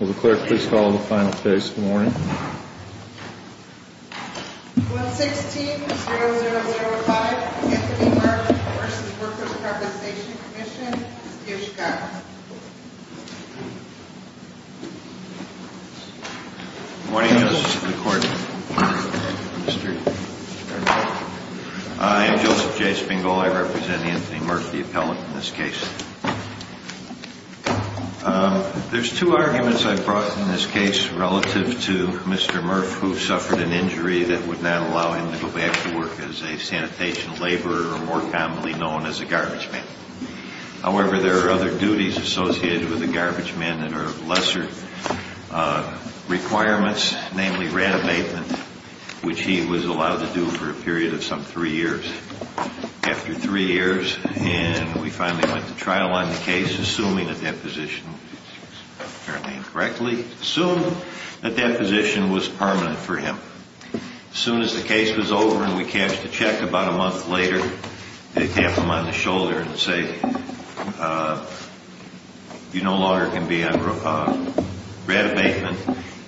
Will the clerk please call the final case in the morning? 116-0005 Anthony Murff v. Workers' Compensation Comm'n. Good morning, Justice of the Court. I am Joseph J. Spingel. I represent Anthony Murff, the appellant in this case. There's two arguments I brought in this case relative to Mr. Murff, who suffered an injury that would not allow him to go back to work as a sanitation laborer, or more commonly known as a garbage man. However, there are other duties associated with a garbage man that are lesser requirements, namely rat abatement, which he was allowed to do for a period of some three years. After three years, we finally went to trial on the case, assuming that that position was permanent for him. As soon as the case was over and we cashed the check about a month later, they tap him on the shoulder and say, You no longer can be on rat abatement.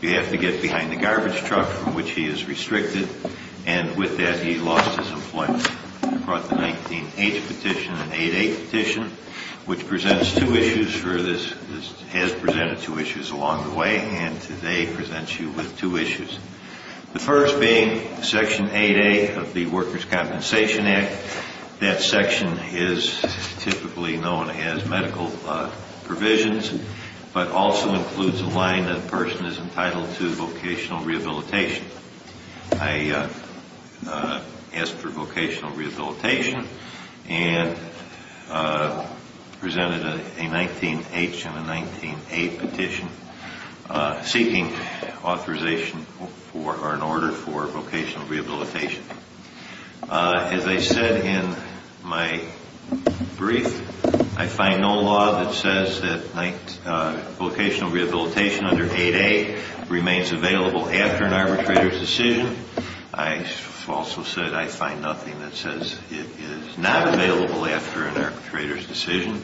You have to get behind the garbage truck, from which he is restricted. And with that, he lost his employment. I brought the 19-H Petition and 8-8 Petition, which presents two issues for this, has presented two issues along the way, and today presents you with two issues. The first being Section 8-8 of the Workers' Compensation Act. That section is typically known as medical provisions, but also includes a line that a person is entitled to vocational rehabilitation. I asked for vocational rehabilitation and presented a 19-H and a 19-8 Petition seeking authorization or an order for vocational rehabilitation. As I said in my brief, I find no law that says that vocational rehabilitation under 8-8 remains available after an arbitrator's decision. I also said I find nothing that says it is not available after an arbitrator's decision.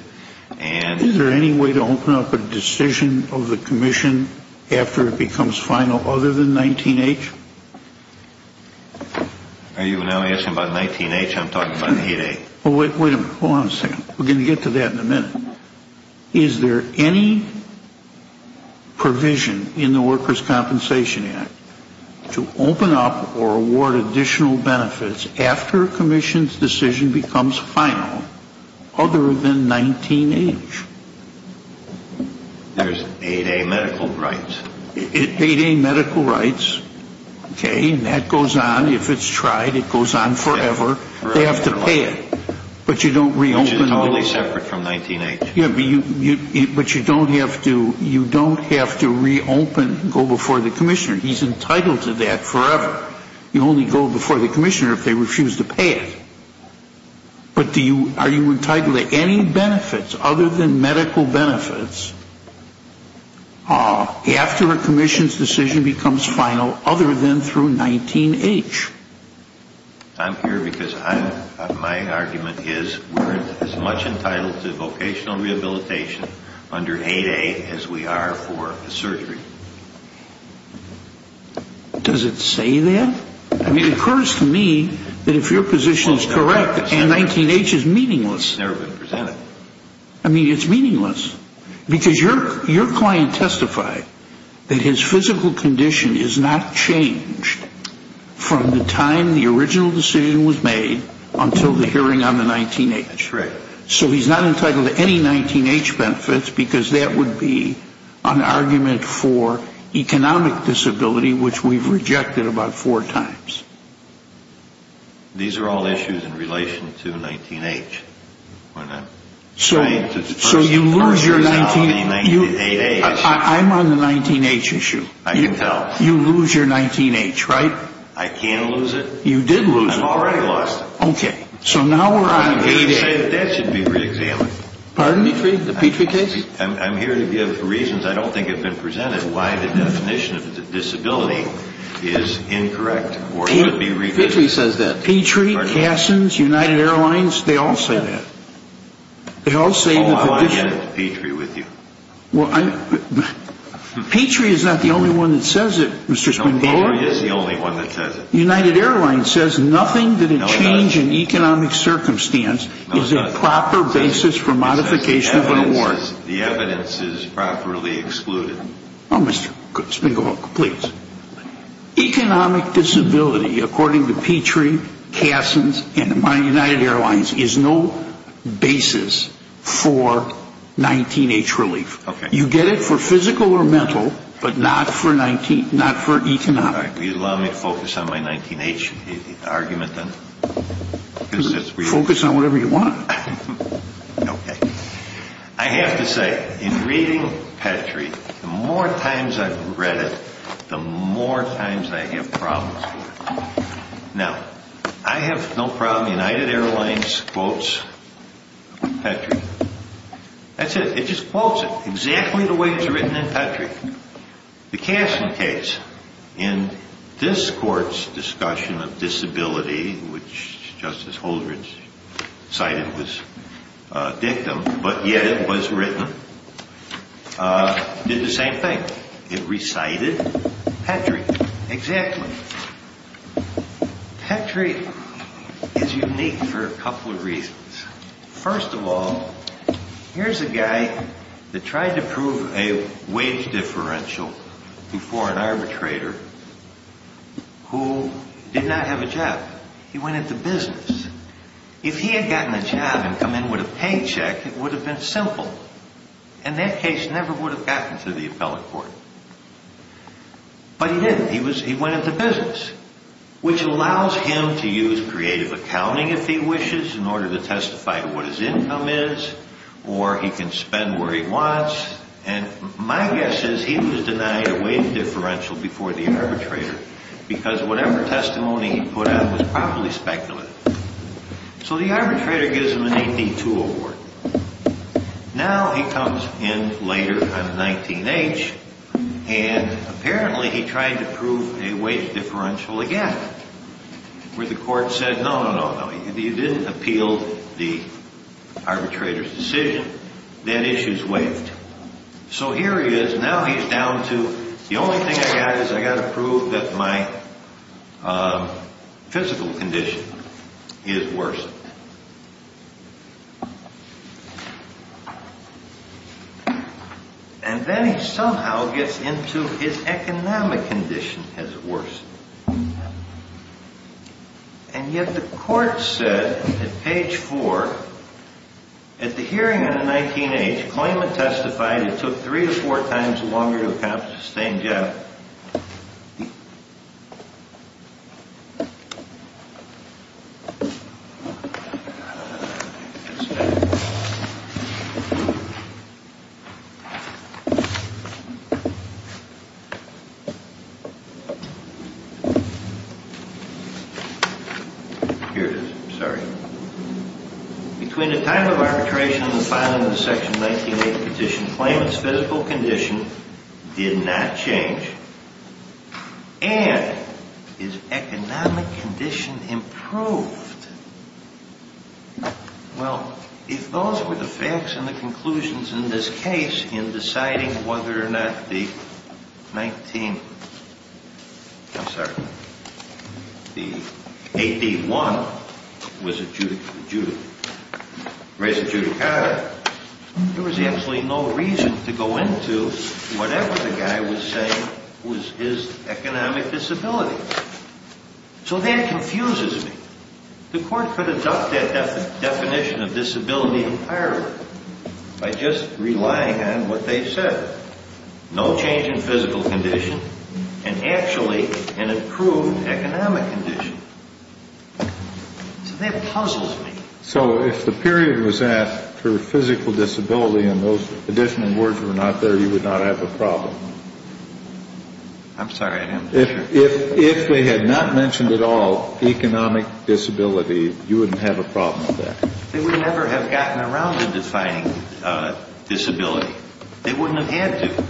Is there any way to open up a decision of the Commission after it becomes final other than 19-H? Are you now asking about 19-H? I'm talking about 8-8. Well, wait a minute. Hold on a second. We're going to get to that in a minute. Is there any provision in the Workers' Compensation Act to open up or award additional benefits after a Commission's decision becomes final other than 19-H? There's 8-A medical rights. 8-A medical rights. Okay. And that goes on. If it's tried, it goes on forever. They have to pay it. Which is totally separate from 19-H. But you don't have to reopen, go before the Commissioner. He's entitled to that forever. You only go before the Commissioner if they refuse to pay it. But are you entitled to any benefits other than medical benefits after a Commission's decision becomes final other than through 19-H? I'm here because my argument is we're as much entitled to vocational rehabilitation under 8-A as we are for the surgery. Does it say that? I mean, it occurs to me that if your position is correct, 19-H is meaningless. It's never been presented. I mean, it's meaningless. Because your client testified that his physical condition is not changed from the time the original decision was made until the hearing on the 19-H. That's correct. So he's not entitled to any 19-H benefits because that would be an argument for economic disability, which we've rejected about four times. These are all issues in relation to 19-H. So you lose your 19-H. I'm on the 19-H issue. I can tell. You lose your 19-H, right? I can't lose it. You did lose it. Okay. So now we're on 8-H. That should be re-examined. Pardon me? The Petrie case? I'm here to give reasons I don't think have been presented why the definition of disability is incorrect or should be re-examined. Petrie says that. Petrie, Kassens, United Airlines, they all say that. They all say that. Well, I want to get into Petrie with you. Petrie is not the only one that says it, Mr. Spengler. Petrie is the only one that says it. United Airlines says nothing that a change in economic circumstance is a proper basis for modification of an award. The evidence is properly excluded. Oh, Mr. Spengler, please. Economic disability, according to Petrie, Kassens, and United Airlines, is no basis for 19-H relief. Okay. You get it for physical or mental, but not for economic. All right. Will you allow me to focus on my 19-H argument then? Focus on whatever you want. Okay. I have to say, in reading Petrie, the more times I've read it, the more times I have problems with it. Now, I have no problem. United Airlines quotes Petrie. That's it. It just quotes it exactly the way it's written in Petrie. The Kassen case, in this court's discussion of disability, which Justice Holdren cited was dictum, but yet it was written, did the same thing. It recited Petrie exactly. Petrie is unique for a couple of reasons. First of all, here's a guy that tried to prove a wage differential before an arbitrator who did not have a job. He went into business. If he had gotten a job and come in with a paycheck, it would have been simple, and that case never would have gotten to the appellate court. But he didn't. He went into business, which allows him to use creative accounting, if he wishes, in order to testify to what his income is, or he can spend where he wants. And my guess is he was denied a wage differential before the arbitrator, because whatever testimony he put out was probably speculative. So the arbitrator gives him an AP2 award. Now he comes in later on 19-H, and apparently he tried to prove a wage differential again, where the court said, no, no, no, no, he didn't appeal the arbitrator's decision. That issue's waived. So here he is. Now he's down to, the only thing I got is I got to prove that my physical condition is worse. And then he somehow gets into his economic condition has worsened. And yet the court said at page four, at the hearing on the 19-H, claimant testified it took three to four times longer to accomplish the same job. Here it is. Sorry. Between the time of arbitration and the filing of the section 19-H petition, claimant's physical condition did not change. And his economic condition improved. Well, if those were the facts and the conclusions in this case in deciding whether or not the 19, I'm sorry, the AP1 was adjudicated, there was absolutely no reason to go into whatever the guy was saying was his economic disability. So that confuses me. The court could adopt that definition of disability entirely by just relying on what they said. No change in physical condition, and actually an improved economic condition. So that puzzles me. So if the period was at for physical disability and those additional words were not there, you would not have a problem? I'm sorry, I'm not sure. If they had not mentioned at all economic disability, you wouldn't have a problem with that? They would never have gotten around to defining disability. They wouldn't have had to.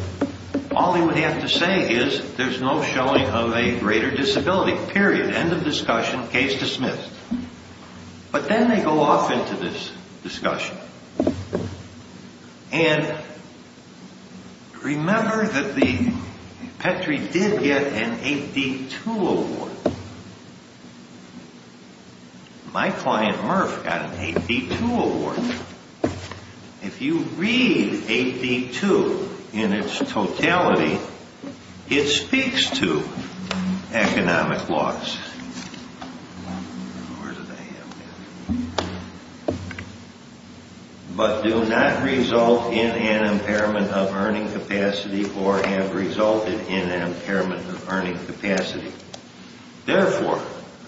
All they would have to say is there's no showing of a greater disability, period, end of discussion, case dismissed. But then they go off into this discussion. And remember that the Petri did get an AP2 award. My client Murph got an AP2 award. If you read AP2 in its totality, it speaks to economic loss. Where did I have that? But do not result in an impairment of earning capacity or have resulted in an impairment of earning capacity. Therefore,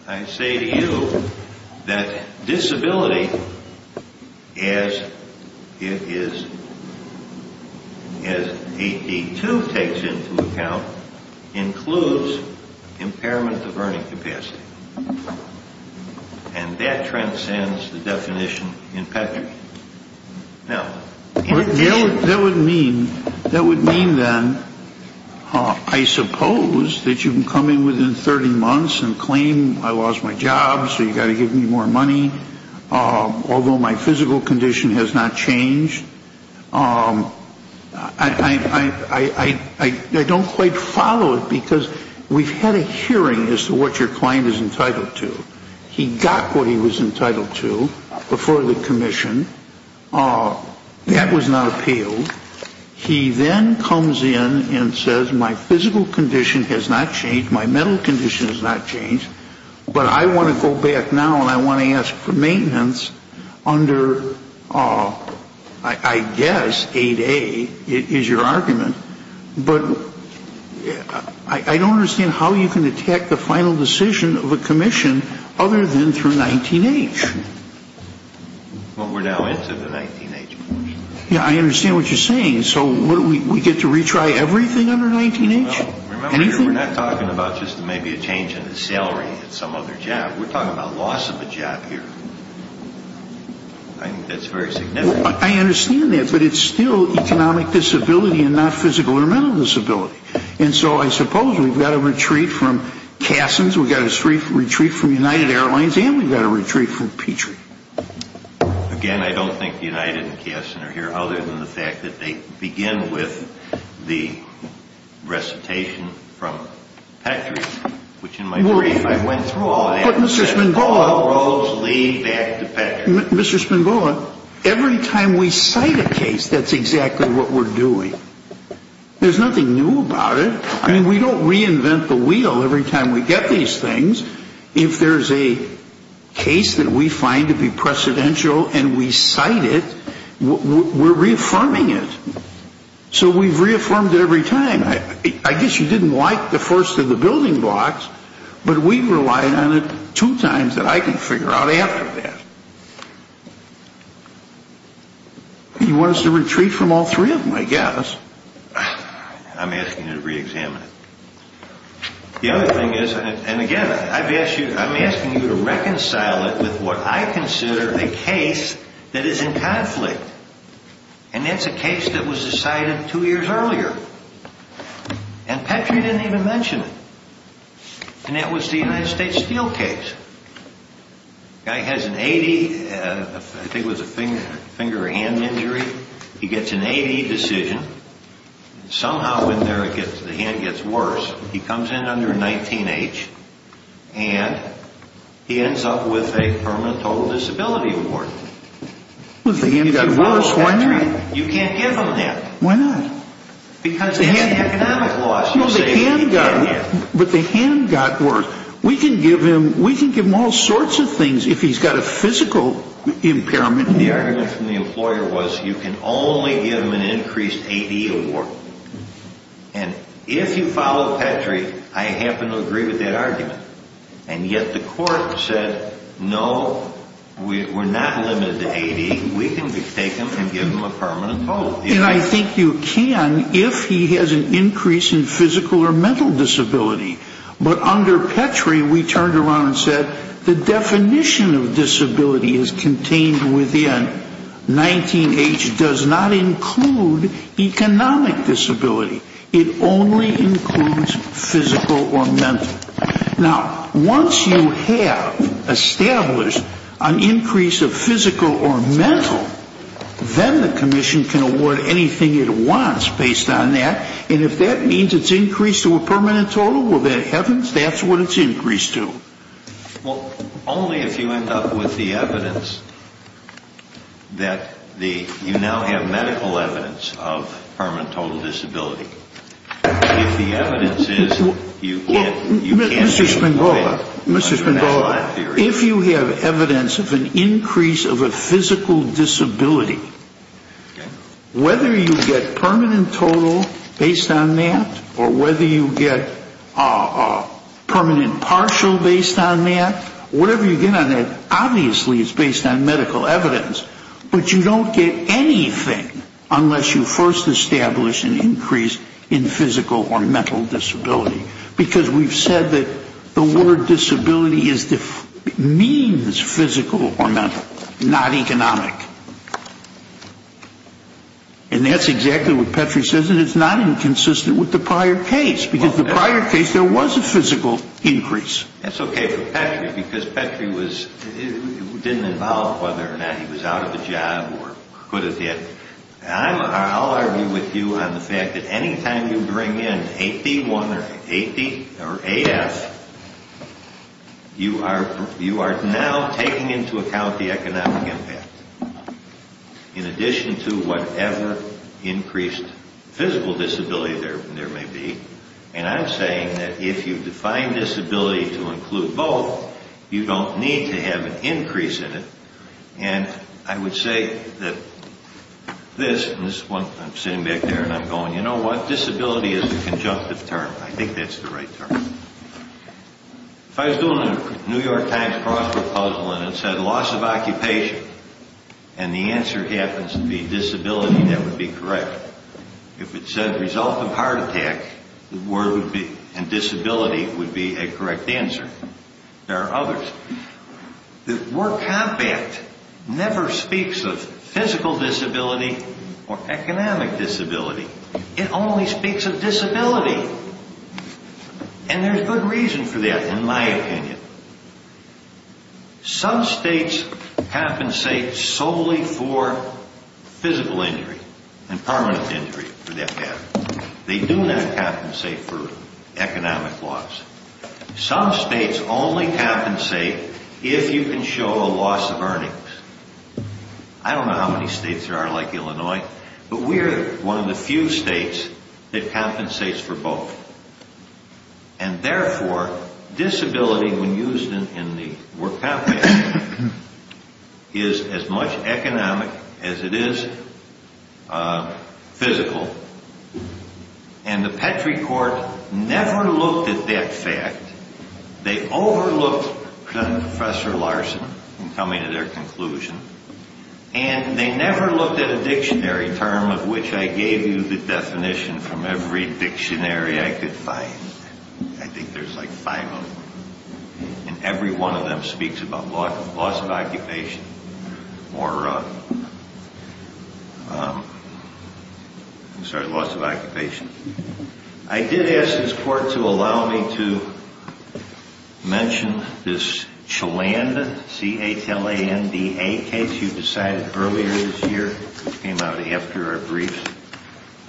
I say to you that disability, as AP2 takes into account, includes impairment of earning capacity. And that transcends the definition in Petri. That would mean then, I suppose, that you can come in within 30 months and claim I lost my job so you've got to give me more money, although my physical condition has not changed. I don't quite follow it because we've had a hearing as to what your client is entitled to. He got what he was entitled to before the commission. That was not appealed. He then comes in and says my physical condition has not changed, my mental condition has not changed, but I want to go back now and I want to ask for maintenance under, I guess, 8A is your argument. But I don't understand how you can detect the final decision of a commission other than through 19H. Well, we're now into the 19H portion. Yeah, I understand what you're saying. So we get to retry everything under 19H? Remember, we're not talking about just maybe a change in the salary at some other job. We're talking about loss of a job here. I think that's very significant. I understand that, but it's still economic disability and not physical or mental disability. And so I suppose we've got a retreat from Cassin's, we've got a retreat from United Airlines, and we've got a retreat from Petrie. Again, I don't think United and Cassin are here other than the fact that they begin with the recitation from Petrie, which in my brief I went through all that. But Mr. Spinboa... I said all roads lead back to Petrie. Mr. Spinboa, every time we cite a case, that's exactly what we're doing. There's nothing new about it. I mean, we don't reinvent the wheel every time we get these things. If there's a case that we find to be precedential and we cite it, we're reaffirming it. So we've reaffirmed it every time. I guess you didn't like the first of the building blocks, but we relied on it two times that I can figure out after that. You want us to retreat from all three of them, I guess. I'm asking you to reexamine it. The other thing is, and again, I'm asking you to reconcile it with what I consider a case that is in conflict. And that's a case that was decided two years earlier. And Petrie didn't even mention it. And that was the United States Steel case. Guy has an A.D., I think it was a finger or hand injury. He gets an A.D. decision. Somehow in there, the hand gets worse. He comes in under 19H and he ends up with a permanent total disability award. Well, if the hand got worse, why not? You can't give him that. Why not? Because of the economic loss. But the hand got worse. We can give him all sorts of things if he's got a physical impairment. The argument from the employer was you can only give him an increased A.D. award. And if you follow Petrie, I happen to agree with that argument. And yet the court said, no, we're not limited to A.D. We can take him and give him a permanent total. And I think you can if he has an increase in physical or mental disability. But under Petrie, we turned around and said the definition of disability is contained within. 19H does not include economic disability. It only includes physical or mental. Now, once you have established an increase of physical or mental, then the commission can award anything it wants based on that. And if that means it's increased to a permanent total, well, then heavens, that's what it's increased to. Well, only if you end up with the evidence that you now have medical evidence of permanent total disability. If the evidence is you can't... Mr. Spangola, if you have evidence of an increase of a physical disability, whether you get permanent total based on that or whether you get permanent partial based on that, whatever you get on that obviously is based on medical evidence. But you don't get anything unless you first establish an increase in physical or mental disability. Because we've said that the word disability means physical or mental, not economic. And that's exactly what Petrie says and it's not inconsistent with the prior case. Because the prior case there was a physical increase. That's okay for Petrie because Petrie didn't involve whether or not he was out of a job or could have been. I'll argue with you on the fact that any time you bring in AP1 or AP or AF, you are now taking into account the economic impact. In addition to whatever increased physical disability there may be. And I'm saying that if you define disability to include both, you don't need to have an increase in it. And I would say that this, and this is one, I'm sitting back there and I'm going, you know what, disability is a conjunctive term. I think that's the right term. If I was doing a New York Times crossword puzzle and it said loss of occupation, and the answer happens to be disability, that would be correct. If it said result of heart attack, the word would be, and disability would be a correct answer. There are others. The work compact never speaks of physical disability or economic disability. It only speaks of disability. And there's good reason for that, in my opinion. Some states compensate solely for physical injury and permanent injury for that matter. They do not compensate for economic loss. Some states only compensate if you can show a loss of earnings. I don't know how many states there are like Illinois, but we are one of the few states that compensates for both. And therefore, disability when used in the work compact is as much economic as it is physical. And the Petrie Court never looked at that fact. They overlooked Professor Larson in coming to their conclusion. And they never looked at a dictionary term of which I gave you the definition from every dictionary I could find. I think there's like five of them. And every one of them speaks about loss of occupation. Or, I'm sorry, loss of occupation. I did ask this Court to allow me to mention this Cheland, C-H-L-A-N-D-A case you decided earlier this year, which came out after our briefs.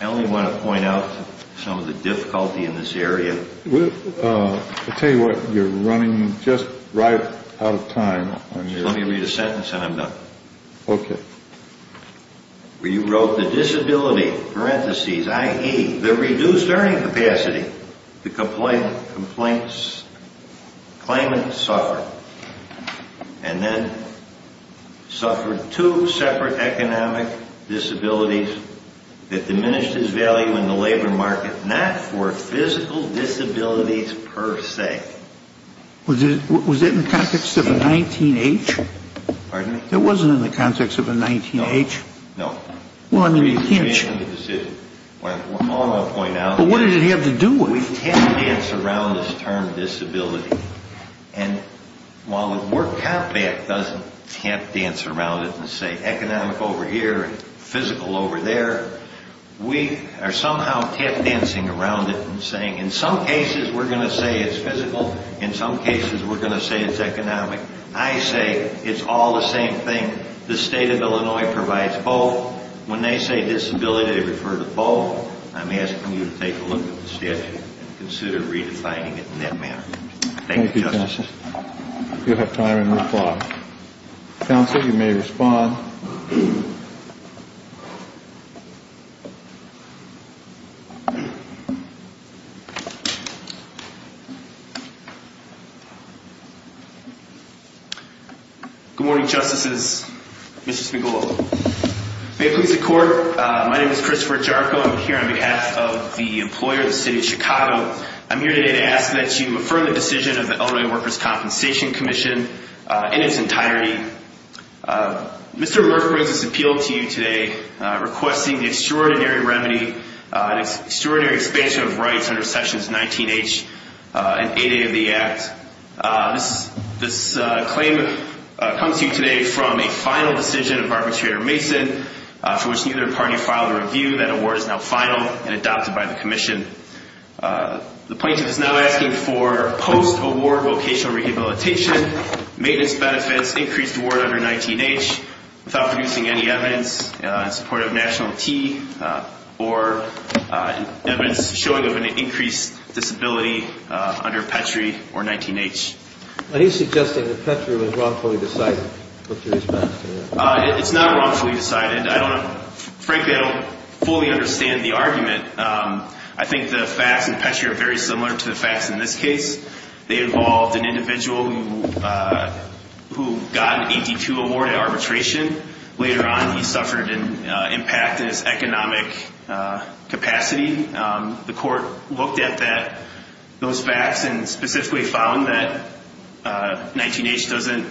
I only want to point out some of the difficulty in this area. I'll tell you what, you're running just right out of time. Just let me read a sentence and I'm done. Okay. Where you wrote the disability, parentheses, i.e., the reduced earning capacity, the complaints, claimant suffered. And then suffered two separate economic disabilities that diminished his value in the labor market, not for physical disabilities per se. Was it in the context of a 19-H? Pardon me? It wasn't in the context of a 19-H? No. No. Well, I mean, you can't... You can't change the decision. All I'm going to point out is... But what did it have to do with? We tap dance around this term disability. And while the Work Comp Act doesn't tap dance around it and say economic over here and physical over there, we are somehow tap dancing around it and saying in some cases we're going to say it's physical, in some cases we're going to say it's economic. I say it's all the same thing. The state of Illinois provides both. When they say disability, they refer to both. I'm asking you to take a look at the statute and consider redefining it in that manner. Thank you, Justice. Thank you, counsel. You'll have time in reply. Counsel, you may respond. Thank you. Good morning, Justices. Mr. Spigolo. May it please the Court, my name is Christopher Jarko. I'm here on behalf of the employer, the City of Chicago. I'm here today to ask that you affirm the decision of the Illinois Workers' Compensation Commission in its entirety. Mr. Murph brings this appeal to you today requesting the extraordinary remedy, extraordinary expansion of rights under sections 19H and 8A of the Act. This claim comes to you today from a final decision of Arbitrator Mason, for which neither party filed a review. That award is now final and adopted by the Commission. The plaintiff is now asking for post-award vocational rehabilitation, maintenance benefits, increased award under 19H, without producing any evidence in support of National T, or evidence showing of an increased disability under Petri or 19H. He's suggesting that Petri was wrongfully decided. What's your response to that? It's not wrongfully decided. I don't, frankly, I don't fully understand the argument. I think the facts in Petri are very similar to the facts in this case. They involved an individual who got an 82 award at arbitration. Later on, he suffered an impact in his economic capacity. The court looked at that, those facts, and specifically found that 19H doesn't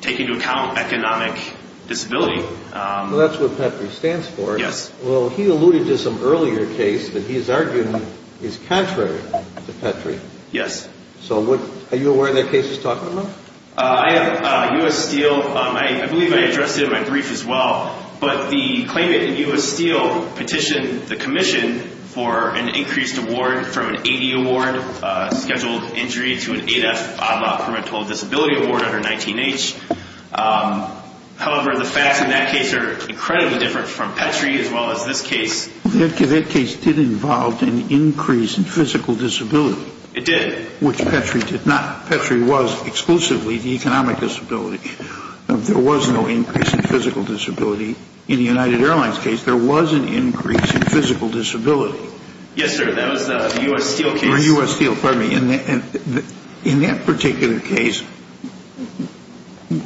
take into account economic disability. Well, that's what Petri stands for. Yes. Well, he alluded to some earlier case that he's arguing is contrary to Petri. Yes. So what, are you aware of that case he's talking about? I have U.S. Steel, I believe I addressed it in my brief as well, but the claimant in U.S. Steel petitioned the Commission for an increased award, from an 80 award, scheduled injury, to an 8F odd-law parental disability award under 19H. However, the facts in that case are incredibly different from Petri, as well as this case. That case did involve an increase in physical disability. It did. Which Petri did not. Petri was exclusively the economic disability. There was no increase in physical disability. In the United Airlines case, there was an increase in physical disability. Yes, sir, that was the U.S. Steel case. Or U.S. Steel, pardon me. In that particular case,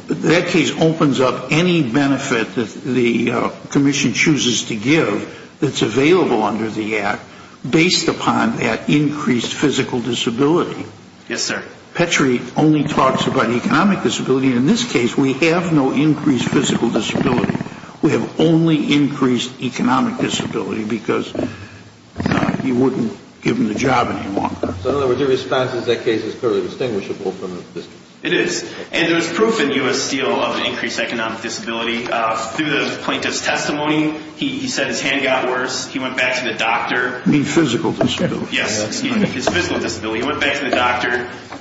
that case opens up any benefit that the Commission chooses to give that's available under the Act, based upon that increased physical disability. Yes, sir. Petri only talks about economic disability. In this case, we have no increased physical disability. We have only increased economic disability, because he wouldn't give him the job anymore. So in other words, your response is that case is clearly distinguishable from this case. It is. And there's proof in U.S. Steel of increased economic disability. Through the plaintiff's testimony, he said his hand got worse. He went back to the doctor. You mean physical disability. Yes, excuse me. His physical disability. He went back to the doctor.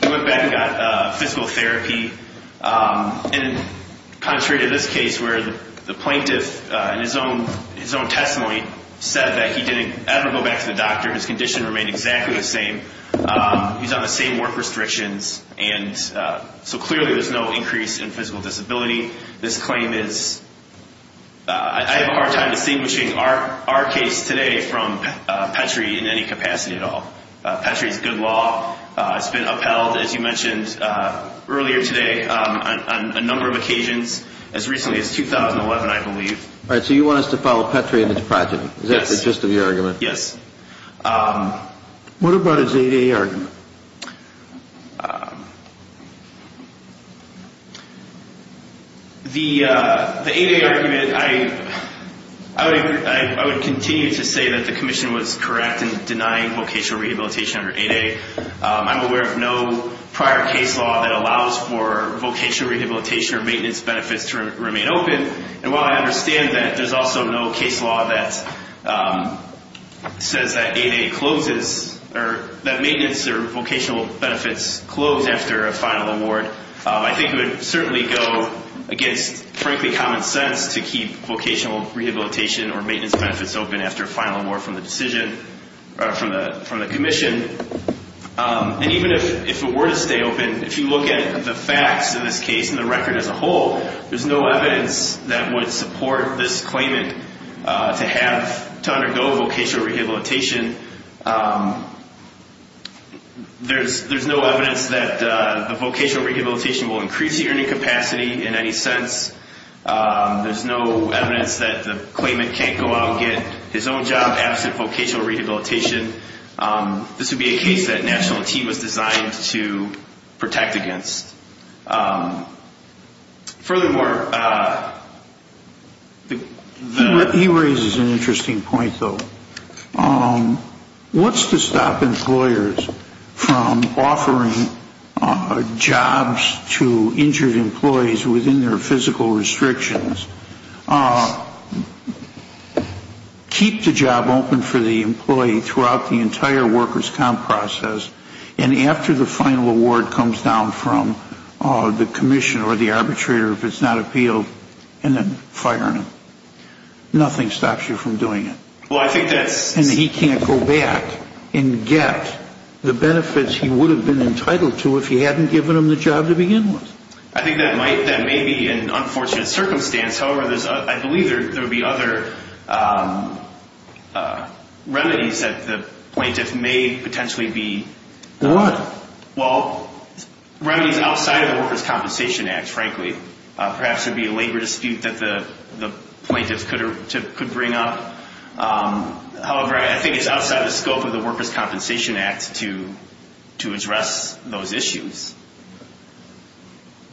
He went back and got physical therapy. And contrary to this case, where the plaintiff, in his own testimony, said that he didn't ever go back to the doctor. His condition remained exactly the same. He's on the same work restrictions. And so clearly, there's no increase in physical disability. This claim is, I have a hard time distinguishing our case today from Petri in any capacity at all. Petri is good law. It's been upheld, as you mentioned earlier today, on a number of occasions, as recently as 2011, I believe. All right, so you want us to follow Petri in his project. Yes. Is that the gist of your argument? Yes. What about his ADA argument? The ADA argument, I would continue to say that the commission was correct in denying vocational rehabilitation under ADA. I'm aware of no prior case law that allows for vocational rehabilitation or maintenance benefits to remain open. And while I understand that, there's also no case law that says that ADA closes, or that maintenance or vocational benefits close after a final award, I think it would certainly go against, frankly, common sense to keep vocational rehabilitation or maintenance benefits open after a final award from the decision, from the commission. And even if it were to stay open, if you look at the facts of this case and the record as a whole, there's no evidence that would support this claimant to undergo vocational rehabilitation. There's no evidence that the vocational rehabilitation will increase the earning capacity in any sense. There's no evidence that the claimant can't go out and get his own job absent vocational rehabilitation. This would be a case that National Team was designed to protect against. Furthermore, he raises an interesting point, though. What's to stop employers from offering jobs to injured employees within their physical restrictions? Keep the job open for the employee throughout the entire workers' comp process, and after the final award comes down from the commission or the arbitrator, if it's not appealed, and then fire him. Nothing stops you from doing it. And he can't go back and get the benefits he would have been entitled to if he hadn't given him the job to begin with. I think that may be an unfortunate circumstance. However, I believe there would be other remedies that the plaintiff may potentially be. What? Well, remedies outside of the Workers' Compensation Act, frankly. Perhaps there would be a labor dispute that the plaintiff could bring up. However, I think it's outside the scope of the Workers' Compensation Act to address those issues.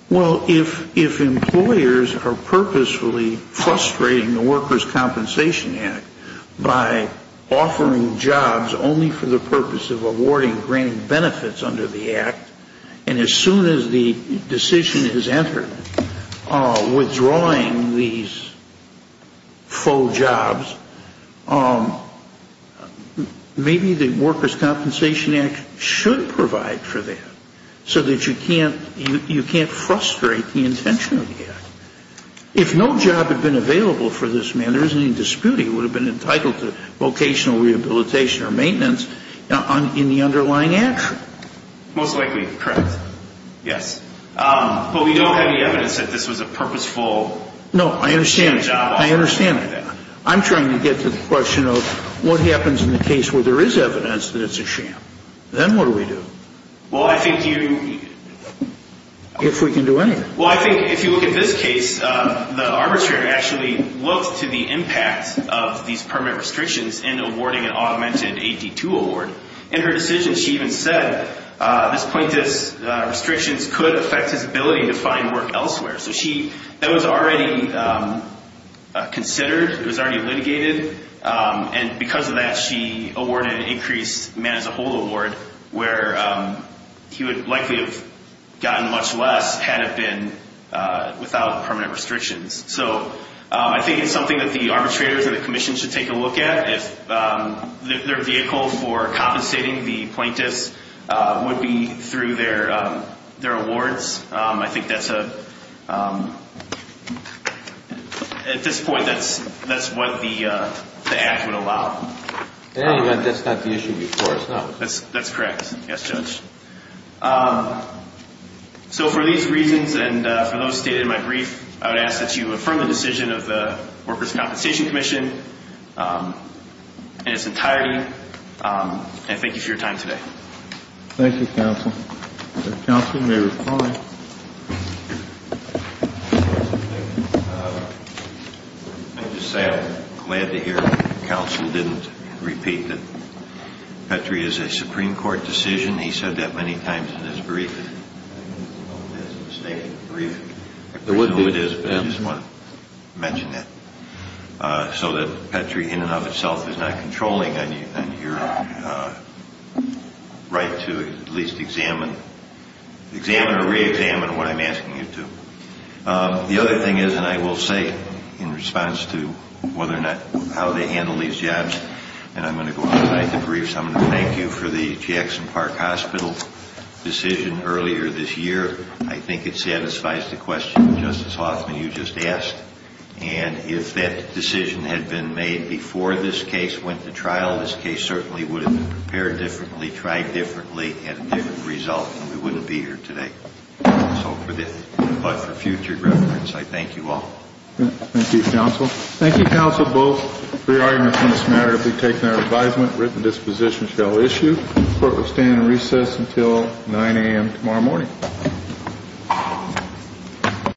Well, if employers are purposefully frustrating the Workers' Compensation Act by offering jobs only for the purpose of awarding grant benefits under the Act, and as soon as the decision is entered, withdrawing these faux jobs, maybe the Workers' Compensation Act should provide for that so that you can't frustrate the intention of the Act. If no job had been available for this man, there isn't any dispute he would have been entitled to vocational rehabilitation or maintenance in the underlying action. Most likely, correct. Yes. But we don't have any evidence that this was a purposeful job offer. No, I understand. I understand that. I'm trying to get to the question of what happens in the case where there is evidence that it's a sham. Then what do we do? Well, I think you... If we can do anything. Well, I think if you look at this case, the arbitrator actually looked to the impact of these permit restrictions in awarding an augmented AD2 award. In her decision, she even said, this plaintiff's restrictions could affect his ability to find work elsewhere. So that was already considered. It was already litigated. And because of that, she awarded an increased man-as-a-whole award where he would likely have gotten much less had it been without permanent restrictions. So I think it's something that the arbitrators and the commission should take a look at. If their vehicle for compensating the plaintiffs would be through their awards, I think that's a... At this point, that's what the act would allow. That's not the issue before. That's correct. Yes, Judge. So for these reasons and for those stated in my brief, I would ask that you affirm the decision of the Workers' Compensation Commission in its entirety. And thank you for your time today. Thank you, counsel. Counsel may reply. Thank you. Let me just say I'm glad to hear counsel didn't repeat that Petrie is a Supreme Court decision. He said that many times in his briefing. I don't know if it is a mistaken briefing. I don't know who it is, but I just want to mention that. So that Petrie, in and of itself, is not controlling on your right to at least examine, examine or re-examine what I'm asking you to. The other thing is, and I will say in response to whether or not how they handle these jobs, and I'm going to go on tonight to brief, so I'm going to thank you for the Jackson Park Hospital decision earlier this year. I think it satisfies the question of Justice Hoffman you just asked. And if that decision had been made before this case went to trial, this case certainly would have been prepared differently, tried differently, had a different result, and we wouldn't be here today. But for future reference, I thank you all. Thank you, counsel. Thank you, counsel, both for your arguments on this matter. If we take their advisement, written disposition shall issue. Court will stand in recess until 9 a.m. tomorrow morning.